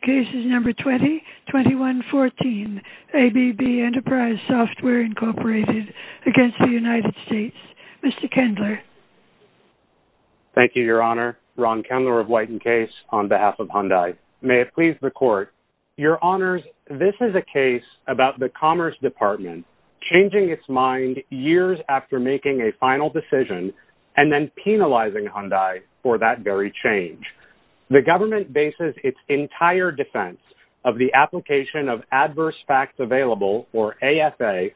Case No. 20-2114, ABB Enterprise Software Inc. v. United States Mr. Kendler Thank you, Your Honor. Ron Kendler of Whiten Case on behalf of Hyundai. May it please the Court. Your Honors, this is a case about the Commerce Department changing its mind years after making a final decision and then penalizing Hyundai for that very change. The government bases its entire defense of the application of Adverse Facts Available, or AFA,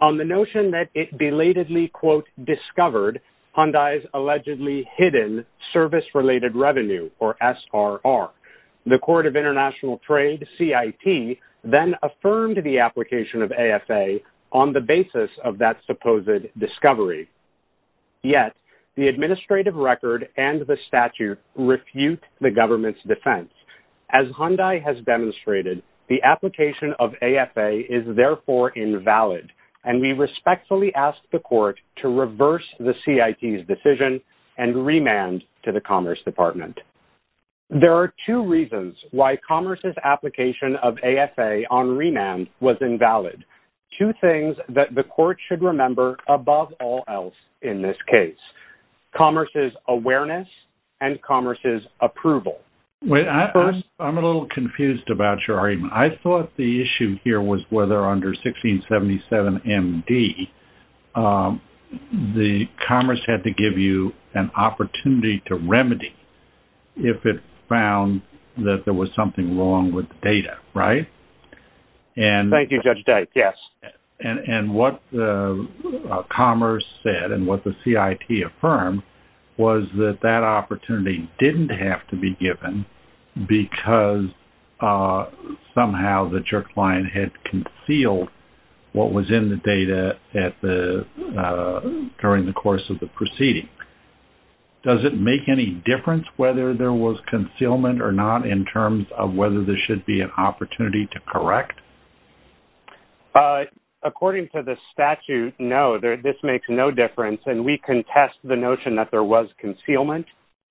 on the notion that it belatedly, quote, discovered Hyundai's allegedly hidden Service Related Revenue, or SRR. The Court of International Trade, CIT, then affirmed the application of AFA on the basis of that supposed discovery. Yet, the administrative record and the statute refute the government's defense. As Hyundai has demonstrated, the application of AFA is therefore invalid, and we respectfully ask the Court to reverse the CIT's decision and remand to the Commerce Department. There are two reasons why Commerce's application of AFA on remand was invalid. Two things that the Court should remember above all else in this case. Commerce's awareness and Commerce's approval. Wait, I'm a little confused about your argument. I thought the issue here was whether under 1677MD, the Commerce had to give you an opportunity to remedy if it found that there was something wrong with the data, right? Thank you, Judge Dyke, yes. And what Commerce said and what the CIT affirmed was that that opportunity didn't have to be given because somehow the jerk line had concealed what was in the data during the course of the proceeding. Does it make any difference whether there was concealment or not in terms of whether there should be an opportunity to correct? According to the statute, no. This makes no difference, and we contest the notion that there was concealment.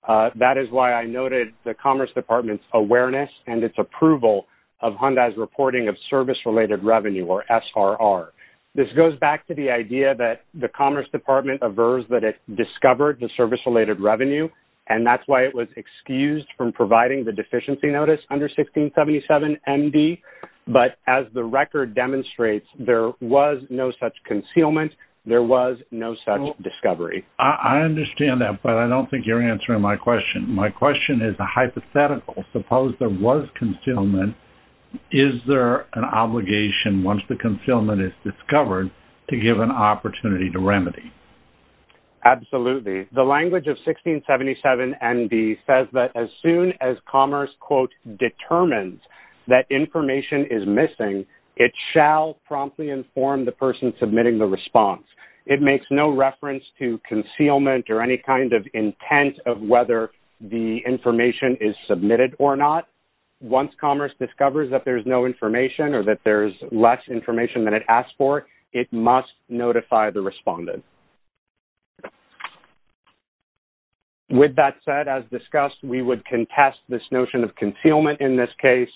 That is why I noted the Commerce Department's awareness and its approval of Hyundai's reporting of service-related revenue, or SRR. This goes back to the idea that the Commerce Department aversed that it discovered the service-related revenue, and that's why it was excused from providing the deficiency notice under 1677MD. But as the record demonstrates, there was no such concealment. There was no such discovery. I understand that, but I don't think you're answering my question. My question is a hypothetical. Suppose there was concealment. Is there an obligation, once the concealment is discovered, to give an opportunity to remedy? Absolutely. The language of 1677MD says that as soon as Commerce, quote, determines that information is missing, it shall promptly inform the person submitting the response. It makes no reference to concealment or any kind of intent of whether the information is submitted or not. Once Commerce discovers that there's no information or that there's less information than it asked for, it must notify the respondent. With that said, as discussed, we would contest this notion of concealment in this case.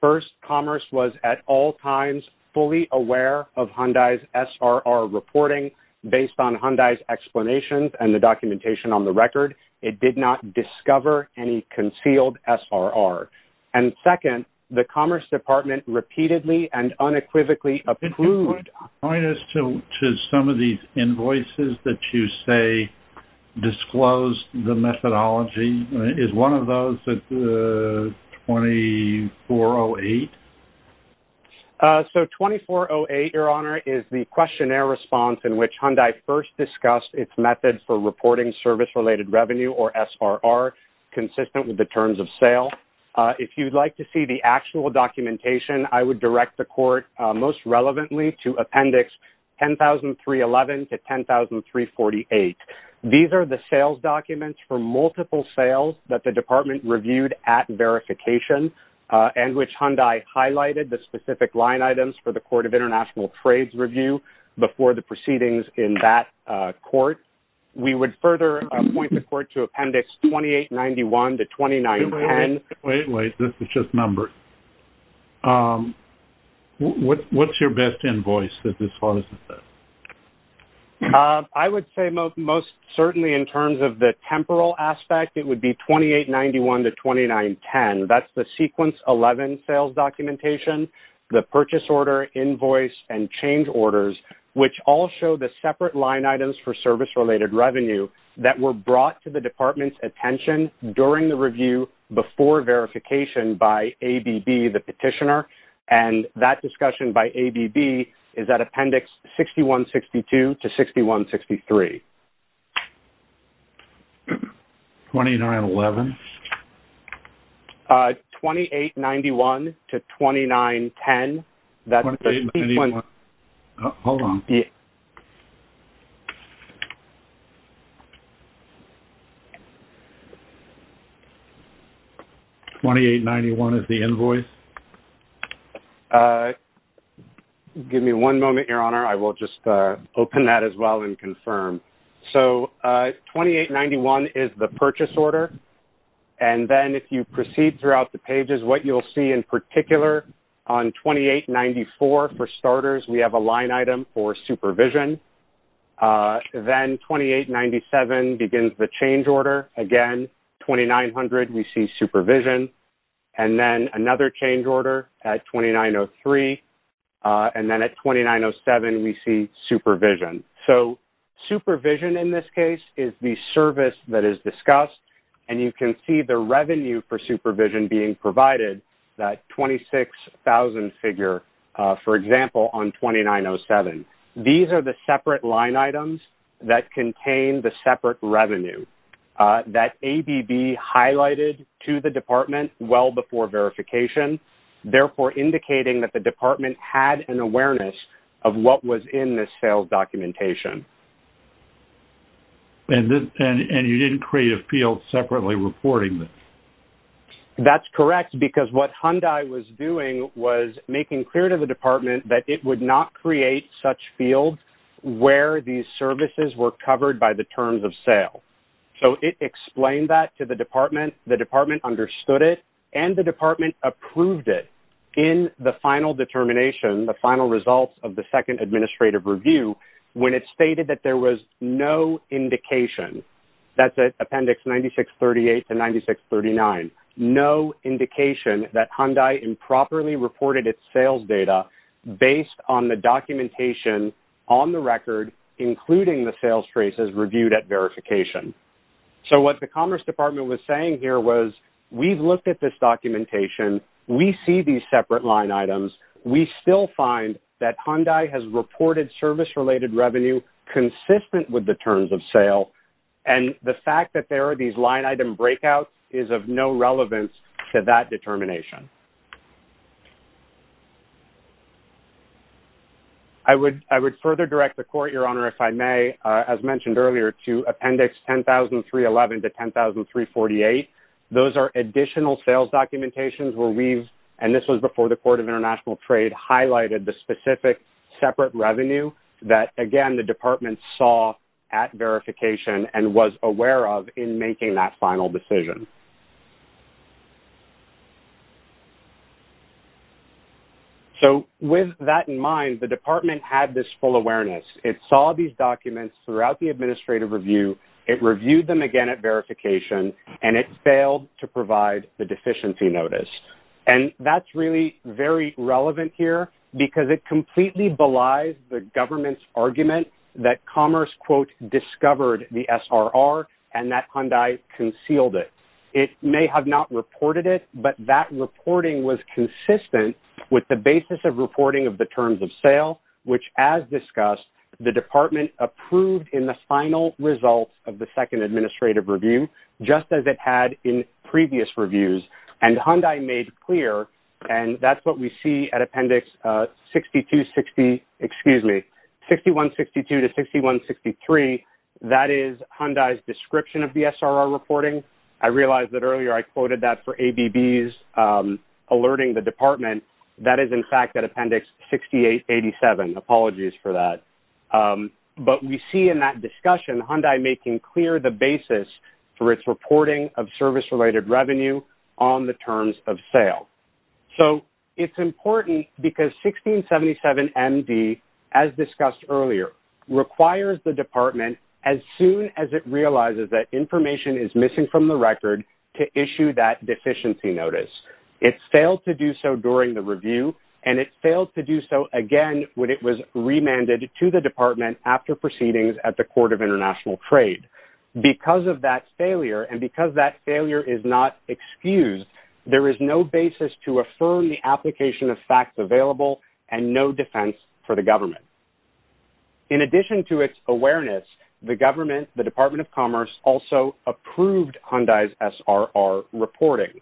First, Commerce was at all times fully aware of Hyundai's SRR reporting based on Hyundai's explanations and the documentation on the record. It did not discover any concealed SRR. And second, the Commerce Department repeatedly and unequivocally approved. Could you point us to some of these invoices that you say disclosed the methodology? Is one of those 2408? So 2408, Your Honor, is the questionnaire response in which Hyundai first discussed its method for reporting service-related revenue, or SRR, consistent with the terms of sale. If you'd like to see the actual documentation, I would direct the court, most relevantly, to appendix 10311 to 10348. These are the sales documents for multiple sales that the department reviewed at verification and which Hyundai highlighted the specific line items for the Court of International Trades review before the proceedings in that court. We would further point the court to appendix 2891 to 2910. Wait, wait, this is just numbers. What's your best invoice that discloses this? I would say most certainly in terms of the temporal aspect, it would be 2891 to 2910. That's the Sequence 11 sales documentation, the purchase order, invoice, and change orders, which all show the separate line items for service-related revenue that were brought to the department's attention during the review before verification by ABB, the petitioner. And that discussion by ABB is at appendix 6162 to 6163. 2911? 2891 to 2910. 2891. Hold on. 2891 is the invoice? Give me one moment, Your Honor. I will just open that as well and confirm. So 2891 is the purchase order. And then if you proceed throughout the pages, what you'll see in particular on 2894 for starters, we have a line item for supervision. Then 2897 begins the change order. Again, 2900, we see supervision. And then another change order at 2903. And then at 2907, we see supervision. So supervision in this case is the service that is discussed, and you can see the revenue for supervision being provided, that $26,000 figure, for example, on 2907. These are the separate line items that contain the separate revenue that ABB highlighted to the department well before verification, therefore indicating that the department had an awareness of what was in this sales documentation. And you didn't create a field separately reporting this? That's correct, because what Hyundai was doing was making clear to the department that it would not create such fields where these services were covered by the terms of sale. So it explained that to the department. The department understood it, and the department approved it in the final determination, the final results of the second administrative review, when it stated that there was no indication. That's at Appendix 9638 to 9639. No indication that Hyundai improperly reported its sales data based on the documentation on the record, including the sales traces reviewed at verification. So what the Commerce Department was saying here was, we've looked at this documentation. We see these separate line items. We still find that Hyundai has reported service-related revenue consistent with the terms of sale, and the fact that there are these line item breakouts is of no relevance to that determination. I would further direct the Court, Your Honor, if I may, as mentioned earlier, to Appendix 100311 to 100348. Those are additional sales documentations where we've, and this was before the Court of International Trade, highlighted the specific separate revenue that, again, the department saw at verification and was aware of in making that final decision. So with that in mind, the department had this full awareness. It saw these documents throughout the administrative review. It reviewed them again at verification, and it failed to provide the deficiency notice. And that's really very relevant here because it completely belies the government's argument that Commerce, quote, discovered the SRR and that Hyundai concealed it. It may have not reported it, but that reporting was consistent with the basis of reporting of the terms of sale, which, as discussed, the department approved in the final results of the second administrative review, just as it had in previous reviews. And Hyundai made clear, and that's what we see at Appendix 6162 to 6163. That is Hyundai's description of the SRR reporting. I realize that earlier I quoted that for ABB's alerting the department. That is, in fact, at Appendix 6887. Apologies for that. But we see in that discussion Hyundai making clear the basis for its reporting of service-related revenue on the terms of sale. So it's important because 1677MD, as discussed earlier, requires the department, as soon as it realizes that information is missing from the record, to issue that deficiency notice. It failed to do so during the review, and it failed to do so again when it was remanded to the department after proceedings at the Court of International Trade. Because of that failure, and because that failure is not excused, there is no basis to affirm the application of facts available and no defense for the government. In addition to its awareness, the government, the Department of Commerce, also approved Hyundai's SRR reporting.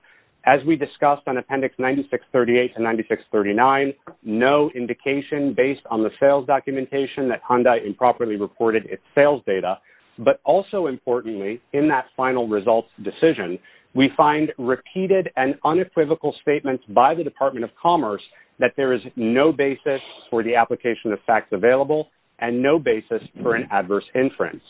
As we discussed on Appendix 9638 and 9639, no indication based on the sales documentation that Hyundai improperly reported its sales data. But also importantly, in that final results decision, we find repeated and unequivocal statements by the Department of Commerce that there is no basis for the application of facts available and no basis for an adverse inference.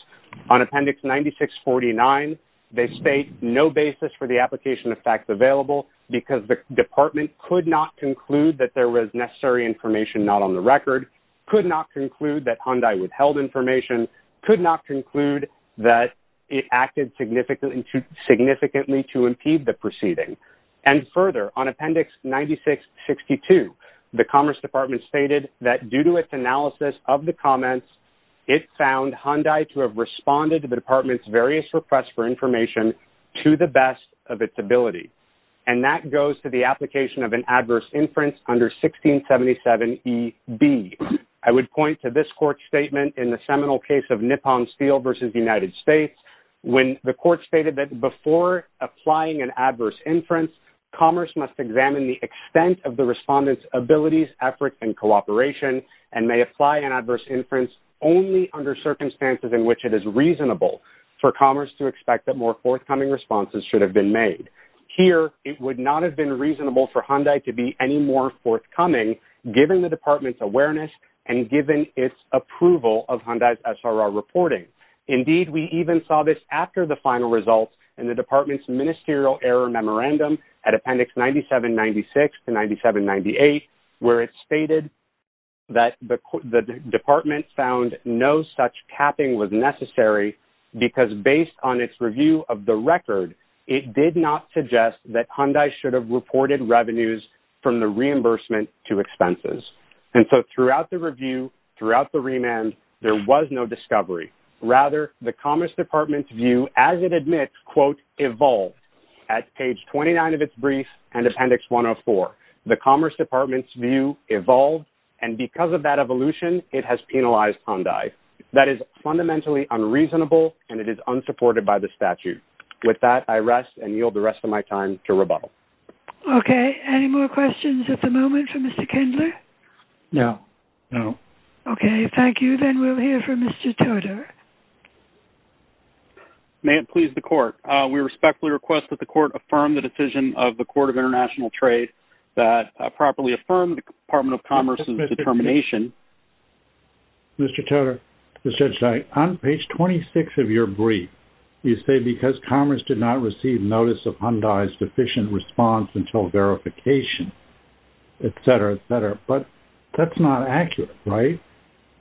On Appendix 9649, they state no basis for the application of facts available because the department could not conclude that there was necessary information not on the record, could not conclude that Hyundai withheld information, could not conclude that it acted significantly to impede the proceeding. And further, on Appendix 9662, the Commerce Department stated that due to its analysis of the comments, it found Hyundai to have responded to the department's various requests for information to the best of its ability. And that goes to the application of an adverse inference under 1677 E.B. I would point to this court statement in the seminal case of Nippon Steel versus the United States, when the court stated that before applying an adverse inference, Commerce must examine the extent of the respondent's abilities, efforts, and cooperation and may apply an adverse inference only under circumstances in which it is reasonable for Commerce to expect that more forthcoming responses should have been made. Here, it would not have been reasonable for Hyundai to be any more forthcoming, given the department's awareness and given its approval of Hyundai's SRR reporting. Indeed, we even saw this after the final results in the department's ministerial error memorandum at Appendix 9796 to 9798, where it stated that the department found no such capping was necessary because based on its review of the record, it did not suggest that Hyundai should have reported revenues from the reimbursement to expenses. And so throughout the review, throughout the remand, there was no discovery. Rather, the Commerce Department's view, as it admits, quote, evolved. At page 29 of its brief and Appendix 104, the Commerce Department's view evolved, and because of that evolution, it has penalized Hyundai. That is fundamentally unreasonable, and it is unsupported by the statute. With that, I rest and yield the rest of my time to rebuttal. Okay. Any more questions at the moment for Mr. Kindler? No. No. Okay. Thank you. Then we'll hear from Mr. Toder. May it please the Court. We respectfully request that the Court affirm the decision of the Court of International Trade that properly affirm the Department of Commerce's determination. Mr. Toder, this is Judge Stein. On page 26 of your brief, you say because Commerce did not receive notice of Hyundai's deficient response until verification, et cetera, et cetera. But that's not accurate, right?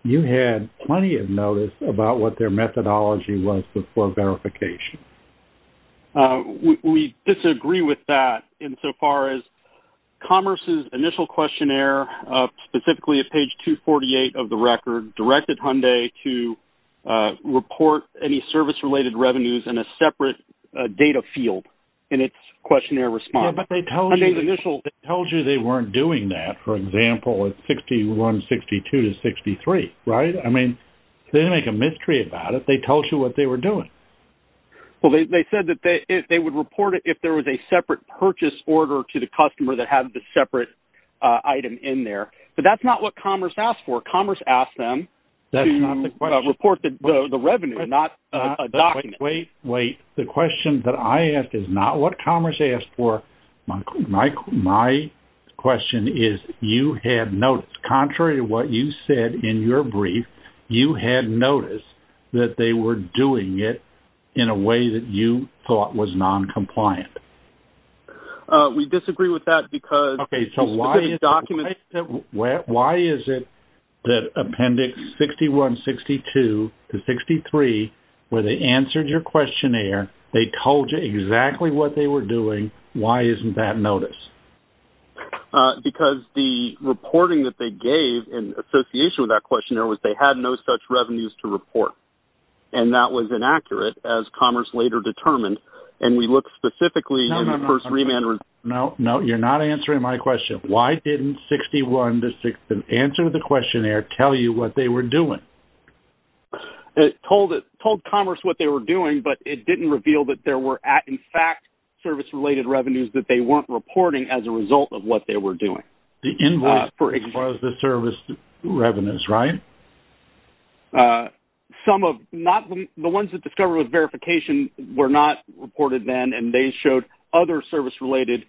You had plenty of notice about what their methodology was before verification. We disagree with that insofar as Commerce's initial questionnaire, specifically at page 248 of the record, directed Hyundai to report any service-related revenues in a separate data field in its questionnaire response. Yeah, but they told you they weren't doing that, for example, at 6162-63, right? I mean, they didn't make a mystery about it. They told you what they were doing. Well, they said that they would report it if there was a separate purchase order to the customer that had the separate item in there. But that's not what Commerce asked for. Commerce asked them to report the revenue, not a document. Wait, wait. The question that I asked is not what Commerce asked for. My question is, you had notice. Contrary to what you said in your brief, you had notice that they were doing it in a way that you thought was noncompliant. We disagree with that because this is a document. Why is it that Appendix 6162-63, where they answered your questionnaire, they told you exactly what they were doing, why isn't that notice? Because the reporting that they gave in association with that questionnaire was they had no such revenues to report. And that was inaccurate, as Commerce later determined. And we looked specifically in the first remand result. No, no, you're not answering my question. Why didn't 61-6, the answer to the questionnaire, tell you what they were doing? It told Commerce what they were doing, but it didn't reveal that there were, in fact, service-related revenues that they weren't reporting as a result of what they were doing. The invoice was the service revenues, right? Some of them. The ones that discovered with verification were not reported then, and they showed other service-related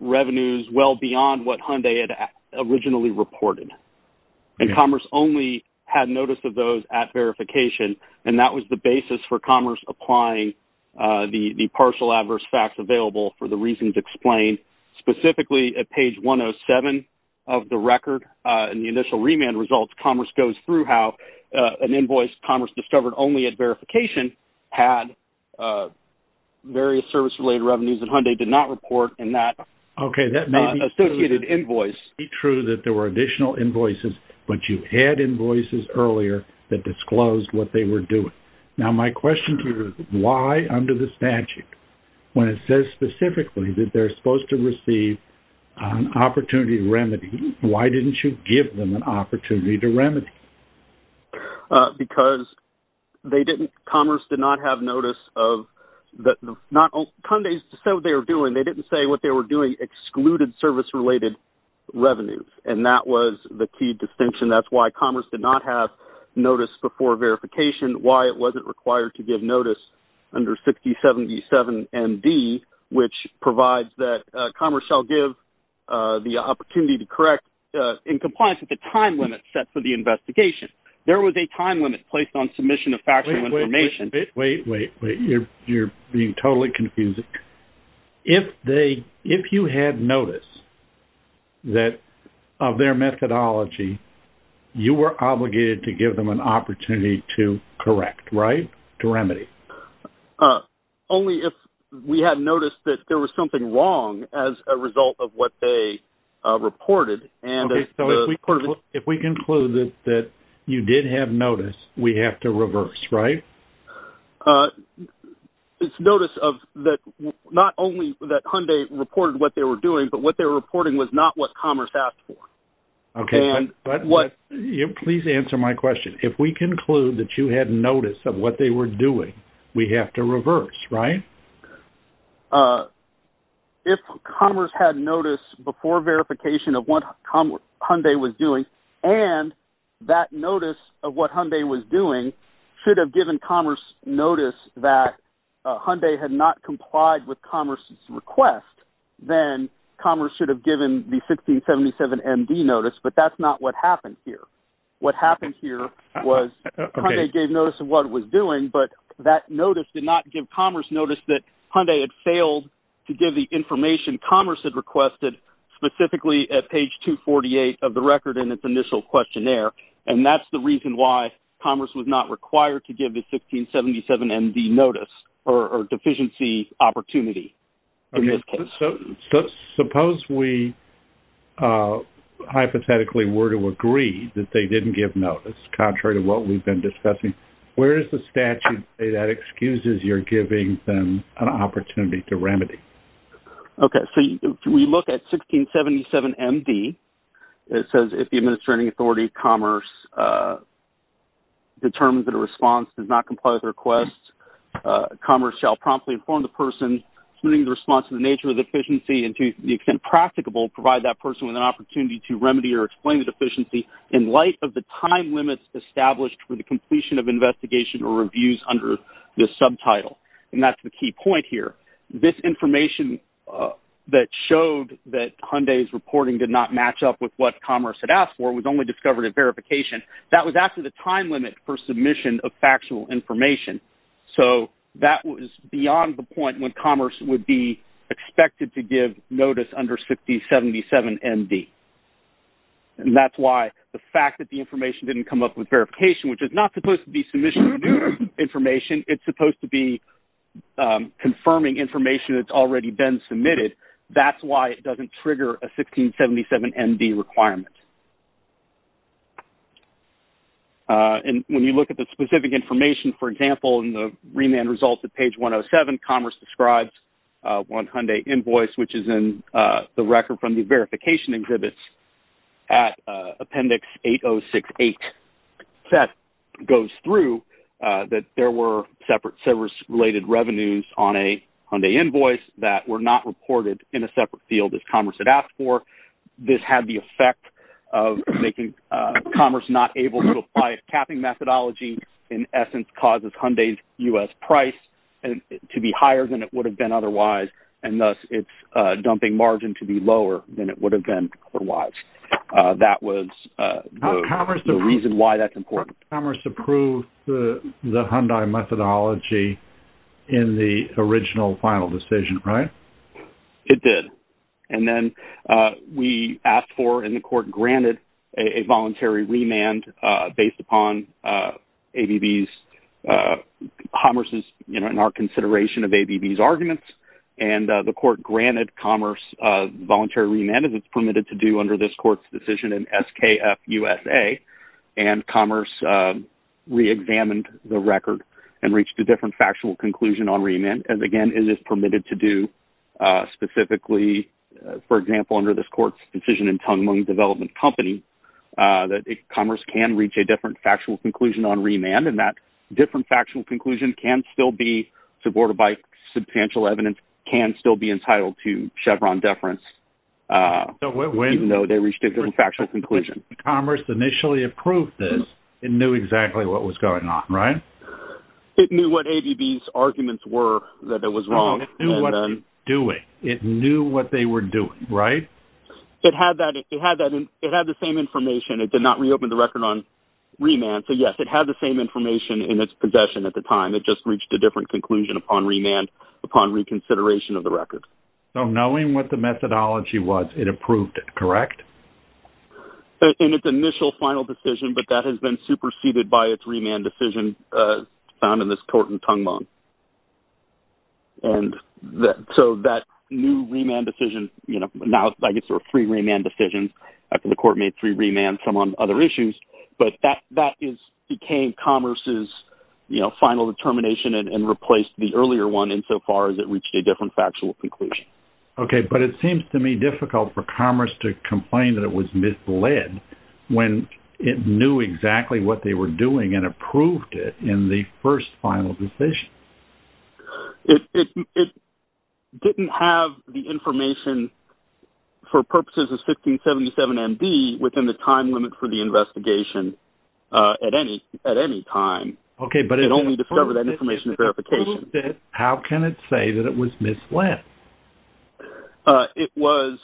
revenues well beyond what Hyundai had originally reported. And Commerce only had notice of those at verification, and that was the basis for Commerce applying the partial adverse facts available for the reasons explained. Specifically at page 107 of the record in the initial remand results, Commerce goes through how an invoice Commerce discovered only at verification had various service-related revenues that Hyundai did not report in that associated invoice. Okay, that may be true that there were additional invoices, but you had invoices earlier that disclosed what they were doing. Now, my question to you is why, under the statute, when it says specifically that they're supposed to receive an opportunity to remedy, why didn't you give them an opportunity to remedy? Because Commerce did not have notice of that. Hyundai just said what they were doing. They didn't say what they were doing excluded service-related revenues, and that was the key distinction. That's why Commerce did not have notice before verification, why it wasn't required to give notice under 6077MD, which provides that Commerce shall give the opportunity to correct in compliance with the time limit set for the investigation. There was a time limit placed on submission of factual information. Wait, wait, wait. You're being totally confusing. If you had notice of their methodology, you were obligated to give them an opportunity to correct, right, to remedy? Only if we had noticed that there was something wrong as a result of what they reported. Okay. So if we conclude that you did have notice, we have to reverse, right? It's notice of not only that Hyundai reported what they were doing, but what they were reporting was not what Commerce asked for. Okay. Please answer my question. If we conclude that you had notice of what they were doing, we have to reverse, right? If Commerce had notice before verification of what Hyundai was doing and that notice of what Hyundai was doing should have given Commerce notice that Hyundai had not complied with Commerce's request, then Commerce should have given the 1677MD notice, but that's not what happened here. What happened here was Hyundai gave notice of what it was doing, but that notice did not give Commerce notice that Hyundai had failed to give the information Commerce had requested, specifically at page 248 of the record in its initial questionnaire, and that's the reason why Commerce was not required to give the 1677MD notice or deficiency opportunity in this case. So suppose we hypothetically were to agree that they didn't give notice, contrary to what we've been discussing. Where does the statute say that excuses you're giving them an opportunity to remedy? Okay. So we look at 1677MD. It says if the administrating authority, Commerce, determines that a response does not comply with the request, Commerce shall promptly inform the person, including the response to the nature of the deficiency and to the extent practicable, provide that person with an opportunity to remedy or explain the deficiency in light of the time limits established for the completion of investigation or reviews under this subtitle. And that's the key point here. This information that showed that Hyundai's reporting did not match up with what Commerce had asked for was only discovered at verification. That was after the time limit for submission of factual information. So that was beyond the point when Commerce would be expected to give notice under 1677MD. And that's why the fact that the information didn't come up with verification, which is not supposed to be submission information. It's supposed to be confirming information that's already been submitted. That's why it doesn't trigger a 1677MD requirement. And when you look at the specific information, for example, in the remand results at page 107, Commerce describes one Hyundai invoice, which is in the record from the verification exhibits at appendix 8068. That goes through that there were separate service-related revenues on a Hyundai invoice that were not reported in a separate field as Commerce had asked for. This had the effect of making Commerce not able to apply its capping methodology, in essence causes Hyundai's U.S. price to be higher than it would have been otherwise, and thus its dumping margin to be lower than it would have been otherwise. That was the reason why that's important. Commerce approved the Hyundai methodology in the original final decision, right? It did. And then we asked for and the court granted a voluntary remand based upon ABB's, Commerce's, you know, in our consideration of ABB's arguments. And the court granted Commerce a voluntary remand as it's permitted to do under this court's decision in SKF USA. And Commerce reexamined the record and reached a different factual conclusion on remand. And again, it is permitted to do specifically, for example, under this court's decision in Tung Mung Development Company, that Commerce can reach a different factual conclusion on remand. And that different factual conclusion can still be subordinated by substantial evidence, can still be entitled to Chevron deference, even though they reached a different factual conclusion. Commerce initially approved this and knew exactly what was going on, right? It knew what ABB's arguments were that it was wrong. It knew what they were doing. It knew what they were doing, right? It had the same information. It did not reopen the record on remand. So yes, it had the same information in its possession at the time. It just reached a different conclusion upon remand, upon reconsideration of the record. So knowing what the methodology was, it approved it, correct? In its initial final decision, but that has been superseded by its remand decision found in this court in Tung Mung. And so that new remand decision, you know, now I guess there are three remand decisions. The court made three remands, some on other issues, but that became Commerce's final determination and replaced the earlier one insofar as it reached a different factual conclusion. Okay, but it seems to me difficult for Commerce to complain that it was misled when it knew exactly what they were doing and approved it in the first final decision. It didn't have the information for purposes of 1577MD within the time limit for the investigation at any time. It only discovered that information in verification. How can it say that it was misled? It was,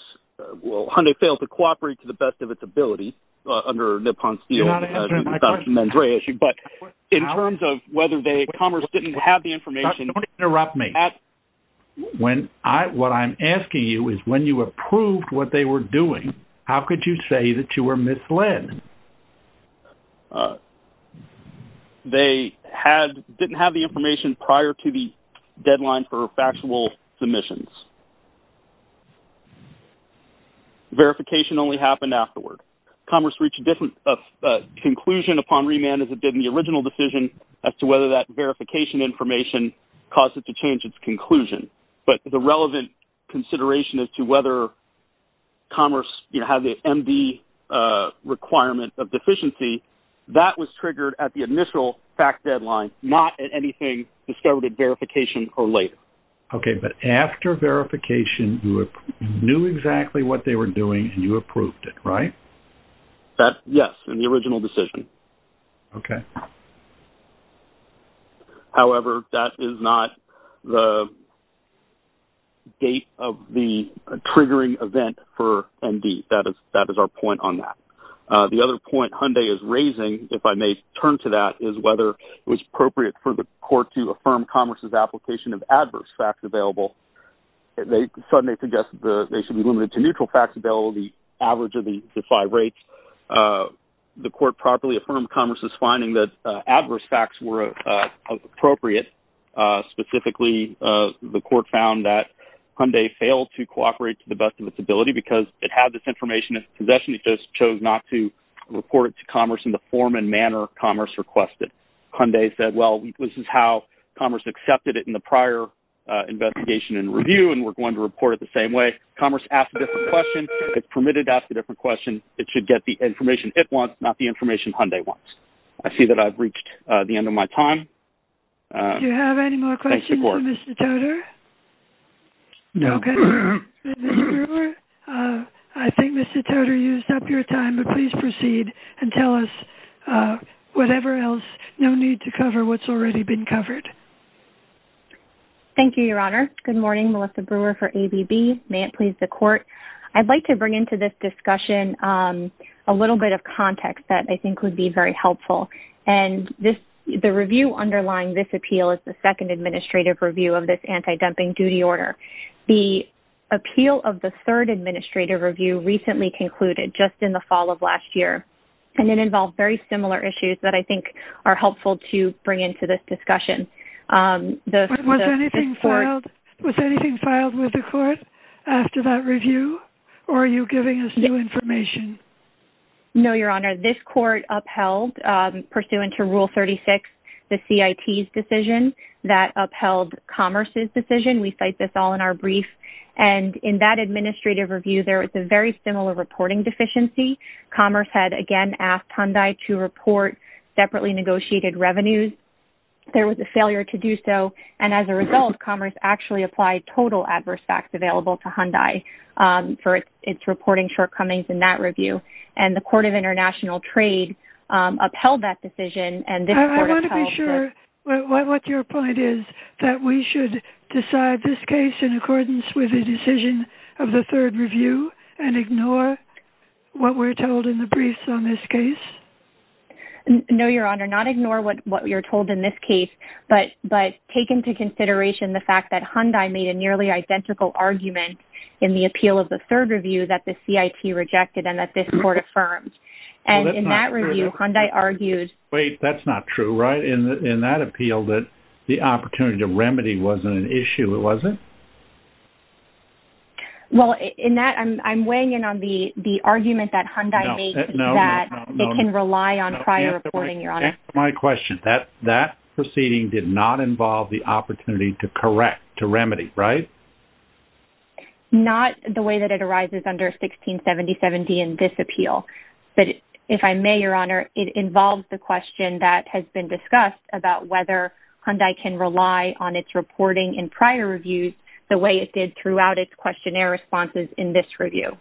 well, Hyundai failed to cooperate to the best of its ability under Nippon's deal, but in terms of whether Commerce didn't have the information. Don't interrupt me. What I'm asking you is when you approved what they were doing, how could you say that you were misled? They didn't have the information prior to the deadline for factual submissions. Verification only happened afterward. Commerce reached a conclusion upon remand as it did in the original decision as to whether that verification information caused it to change its conclusion, but the relevant consideration as to whether Commerce had the MD requirement of deficiency, that was triggered at the initial fact deadline, not at anything discovered at verification or later. Okay, but after verification, you knew exactly what they were doing and you approved it, right? Yes, in the original decision. Okay. However, that is not the date of the triggering event for MD. That is our point on that. The other point Hyundai is raising, if I may turn to that, is whether it was appropriate for the court to affirm Commerce's application of adverse facts available. They suddenly suggested they should be limited to neutral facts available, the average of the five rates. The court properly affirmed Commerce's finding that adverse facts were appropriate. Specifically, the court found that Hyundai failed to cooperate to the best of its ability because it had this information in its possession. It just chose not to report it to Commerce in the form and manner Commerce requested. Hyundai said, well, this is how Commerce accepted it in the prior investigation and review, and we're going to report it the same way. Commerce asked a different question. It's permitted to ask a different question. It should get the information it wants, not the information Hyundai wants. I see that I've reached the end of my time. Do you have any more questions for Mr. Toter? No. Okay. Ms. Brewer, I think Mr. Toter used up your time, but please proceed and tell us whatever else. No need to cover what's already been covered. Thank you, Your Honor. Good morning. Melissa Brewer for ABB. May it please the court. I'd like to bring into this discussion a little bit of context that I think would be very helpful. And the review underlying this appeal is the second administrative review of this anti-dumping duty order. The appeal of the third administrative review recently concluded just in the fall of last year, and it involved very similar issues that I think are helpful to bring into this discussion. Was anything filed with the court after that review, or are you giving us new information? No, Your Honor. This court upheld, pursuant to Rule 36, the CIT's decision that upheld Commerce's decision. We cite this all in our brief. And in that administrative review, there was a very similar reporting deficiency. Commerce had, again, asked Hyundai to report separately negotiated revenues. There was a failure to do so. And as a result, Commerce actually applied total adverse facts available to Hyundai for its reporting shortcomings in that review. And the Court of International Trade upheld that decision. I want to be sure what your point is, that we should decide this case in accordance with the decision of the third review and ignore what we're told in the briefs on this case? No, Your Honor. Not ignore what you're told in this case, but take into consideration the fact that Hyundai made a nearly identical argument in the appeal of the third review that the CIT rejected and that this court affirmed. And in that review, Hyundai argued Wait, that's not true, right? In that appeal, the opportunity to remedy wasn't an issue, was it? Well, in that, I'm weighing in on the argument that Hyundai made that it can rely on prior reporting, Your Honor. Answer my question. That proceeding did not involve the opportunity to correct, to remedy, right? Not the way that it arises under 1670.70 in this appeal. But if I may, Your Honor, it involves the question that has been discussed about whether Hyundai can rely on its reporting in prior reviews the way it did throughout its questionnaire responses in this review.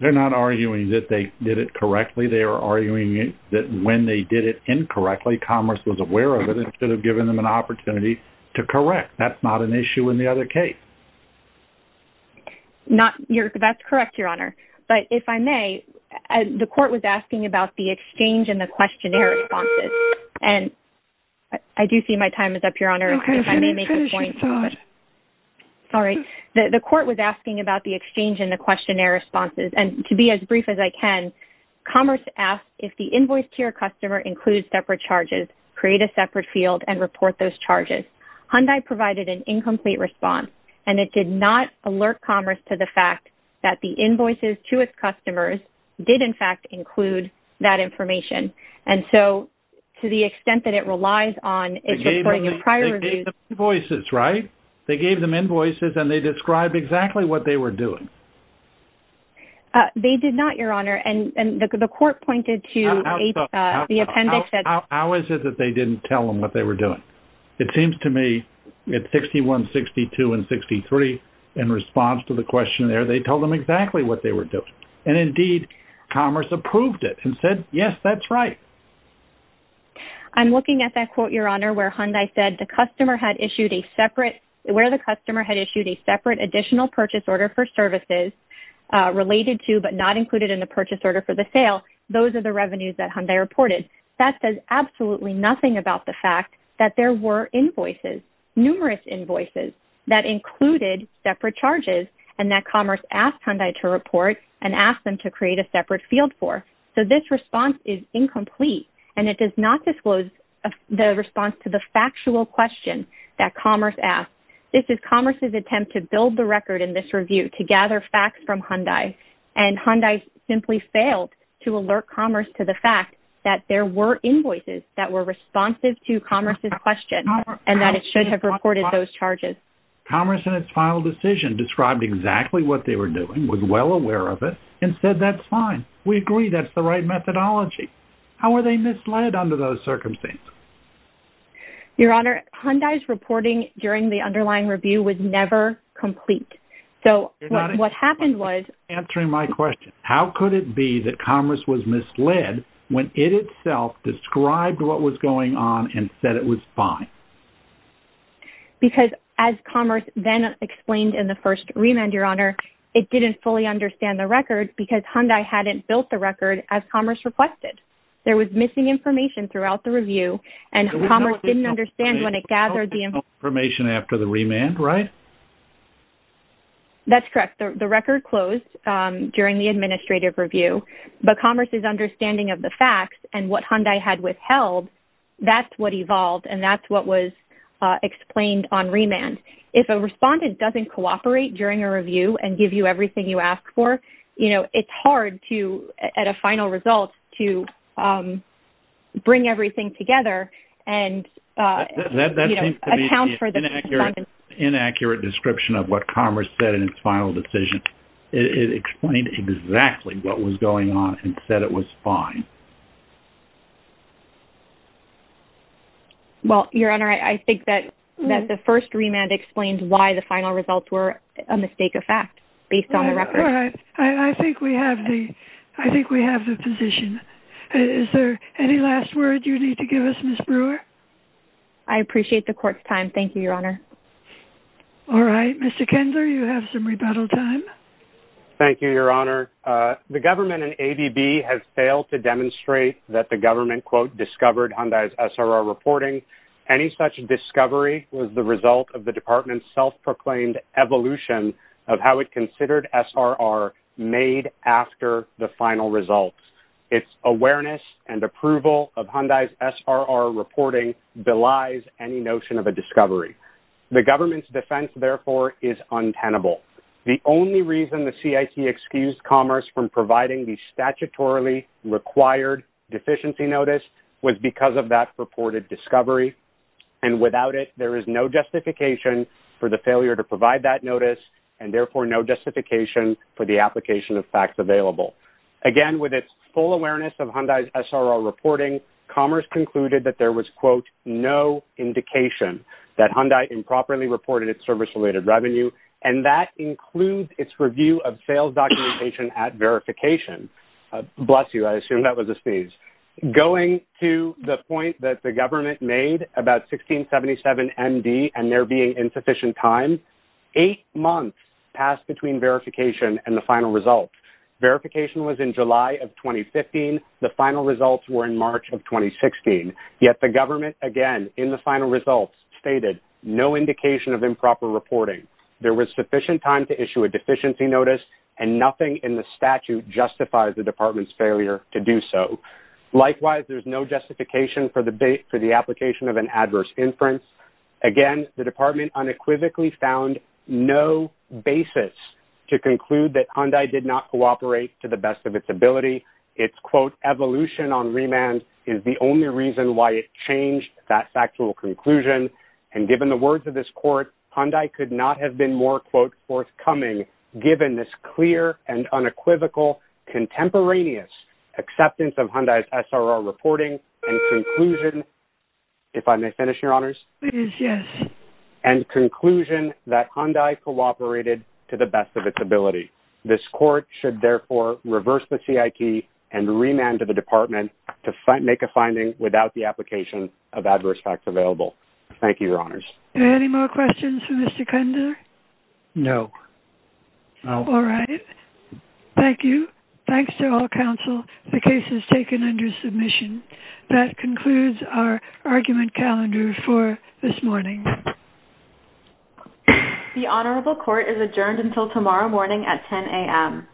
They're not arguing that they did it correctly. They are arguing that when they did it incorrectly, Commerce was aware of it instead of giving them an opportunity to correct. That's not an issue in the other case. That's correct, Your Honor. But if I may, the court was asking about the exchange and the questionnaire responses. And I do see my time is up, Your Honor. If I may make a point. All right. The court was asking about the exchange and the questionnaire responses. And to be as brief as I can, Commerce asked if the invoice to your customer includes separate charges, create a separate field and report those charges. Hyundai provided an incomplete response. And it did not alert Commerce to the fact that the invoices to its customers did, in fact, include that information. And so to the extent that it relies on its reporting in prior reviews. They gave them invoices, right? They gave them invoices and they described exactly what they were doing. They did not, Your Honor. And the court pointed to the appendix. How is it that they didn't tell them what they were doing? It seems to me at 61, 62, and 63, in response to the questionnaire, they told them exactly what they were doing. And indeed, Commerce approved it and said, yes, that's right. I'm looking at that quote, Your Honor, where Hyundai said the customer had issued a separate, where the customer had issued a separate additional purchase order for services related to, but not included in the purchase order for the sale. Those are the revenues that Hyundai reported. That says absolutely nothing about the fact that there were invoices, numerous invoices, that included separate charges and that Commerce asked Hyundai to report and asked them to create a separate field for. So this response is incomplete. And it does not disclose the response to the factual question that Commerce asked. This is Commerce's attempt to build the record in this review, to gather facts from Hyundai. And Hyundai simply failed to alert Commerce to the fact that there were invoices that were responsive to Commerce's question and that it should have reported those charges. Commerce in its final decision described exactly what they were doing, was well aware of it, and said, that's fine. We agree that's the right methodology. How were they misled under those circumstances? Your Honor, Hyundai's reporting during the underlying review was never complete. So what happened was... You're not answering my question. How could it be that Commerce was misled when it itself described what was going on and said it was fine? Because as Commerce then explained in the first remand, Your Honor, it didn't fully understand the record because Hyundai hadn't built the record as Commerce requested. There was missing information throughout the review, and Commerce didn't understand when it gathered the information. There was no information after the remand, right? That's correct. The record closed during the administrative review. But Commerce's understanding of the facts and what Hyundai had withheld, that's what evolved, and that's what was explained on remand. If a respondent doesn't cooperate during a review and give you everything you ask for, you know, it's hard to, at a final result, to bring everything together and... That seems to be an inaccurate description of what Commerce said in its final decision. It explained exactly what was going on and said it was fine. Well, Your Honor, I think that the first remand explains why the final results were a mistake of fact based on the record. I think we have the position. Is there any last word you need to give us, Ms. Brewer? I appreciate the court's time. Thank you, Your Honor. All right. Mr. Kendler, you have some rebuttal time. Thank you, Your Honor. The government and ADB have failed to demonstrate that the government, quote, discovered Hyundai's SRR reporting. Any such discovery was the result of the department's self-proclaimed evolution of how it considered SRR made after the final results. Its awareness and approval of Hyundai's SRR reporting belies any notion of a discovery. The government's defense, therefore, is untenable. The only reason the CIT excused Commerce from providing the statutorily required deficiency notice was because of that reported discovery. And without it, there is no justification for the failure to provide that notice and, therefore, no justification for the application of facts available. Again, with its full awareness of Hyundai's SRR reporting, Commerce concluded that there was, quote, no indication that Hyundai improperly reported its service-related revenue, and that includes its review of sales documentation at verification. Bless you. I assume that was a sneeze. Going to the point that the government made about 1677MD and there being insufficient time, eight months passed between verification and the final results. Verification was in July of 2015. The final results were in March of 2016. Yet the government, again, in the final results stated no indication of improper reporting. There was sufficient time to issue a deficiency notice, and nothing in the statute justifies the department's failure to do so. Likewise, there's no justification for the application of an adverse inference. Again, the department unequivocally found no basis to conclude that Hyundai did not cooperate to the best of its ability. It's, quote, evolution on remand is the only reason why it changed that factual conclusion. And given the words of this court, Hyundai could not have been more, quote, forthcoming given this clear and unequivocal contemporaneous acceptance of Hyundai's SRR reporting and conclusion. If I may finish, Your Honors. Please, yes. And conclusion that Hyundai cooperated to the best of its ability. This court should, therefore, reverse the CIP and remand to the department to make a finding without the application of adverse facts available. Thank you, Your Honors. Any more questions for Mr. Kunder? No. All right. Thank you. Thanks to all counsel. The case is taken under submission. That concludes our argument calendar for this morning. The Honorable Court is adjourned until tomorrow morning at 10 a.m.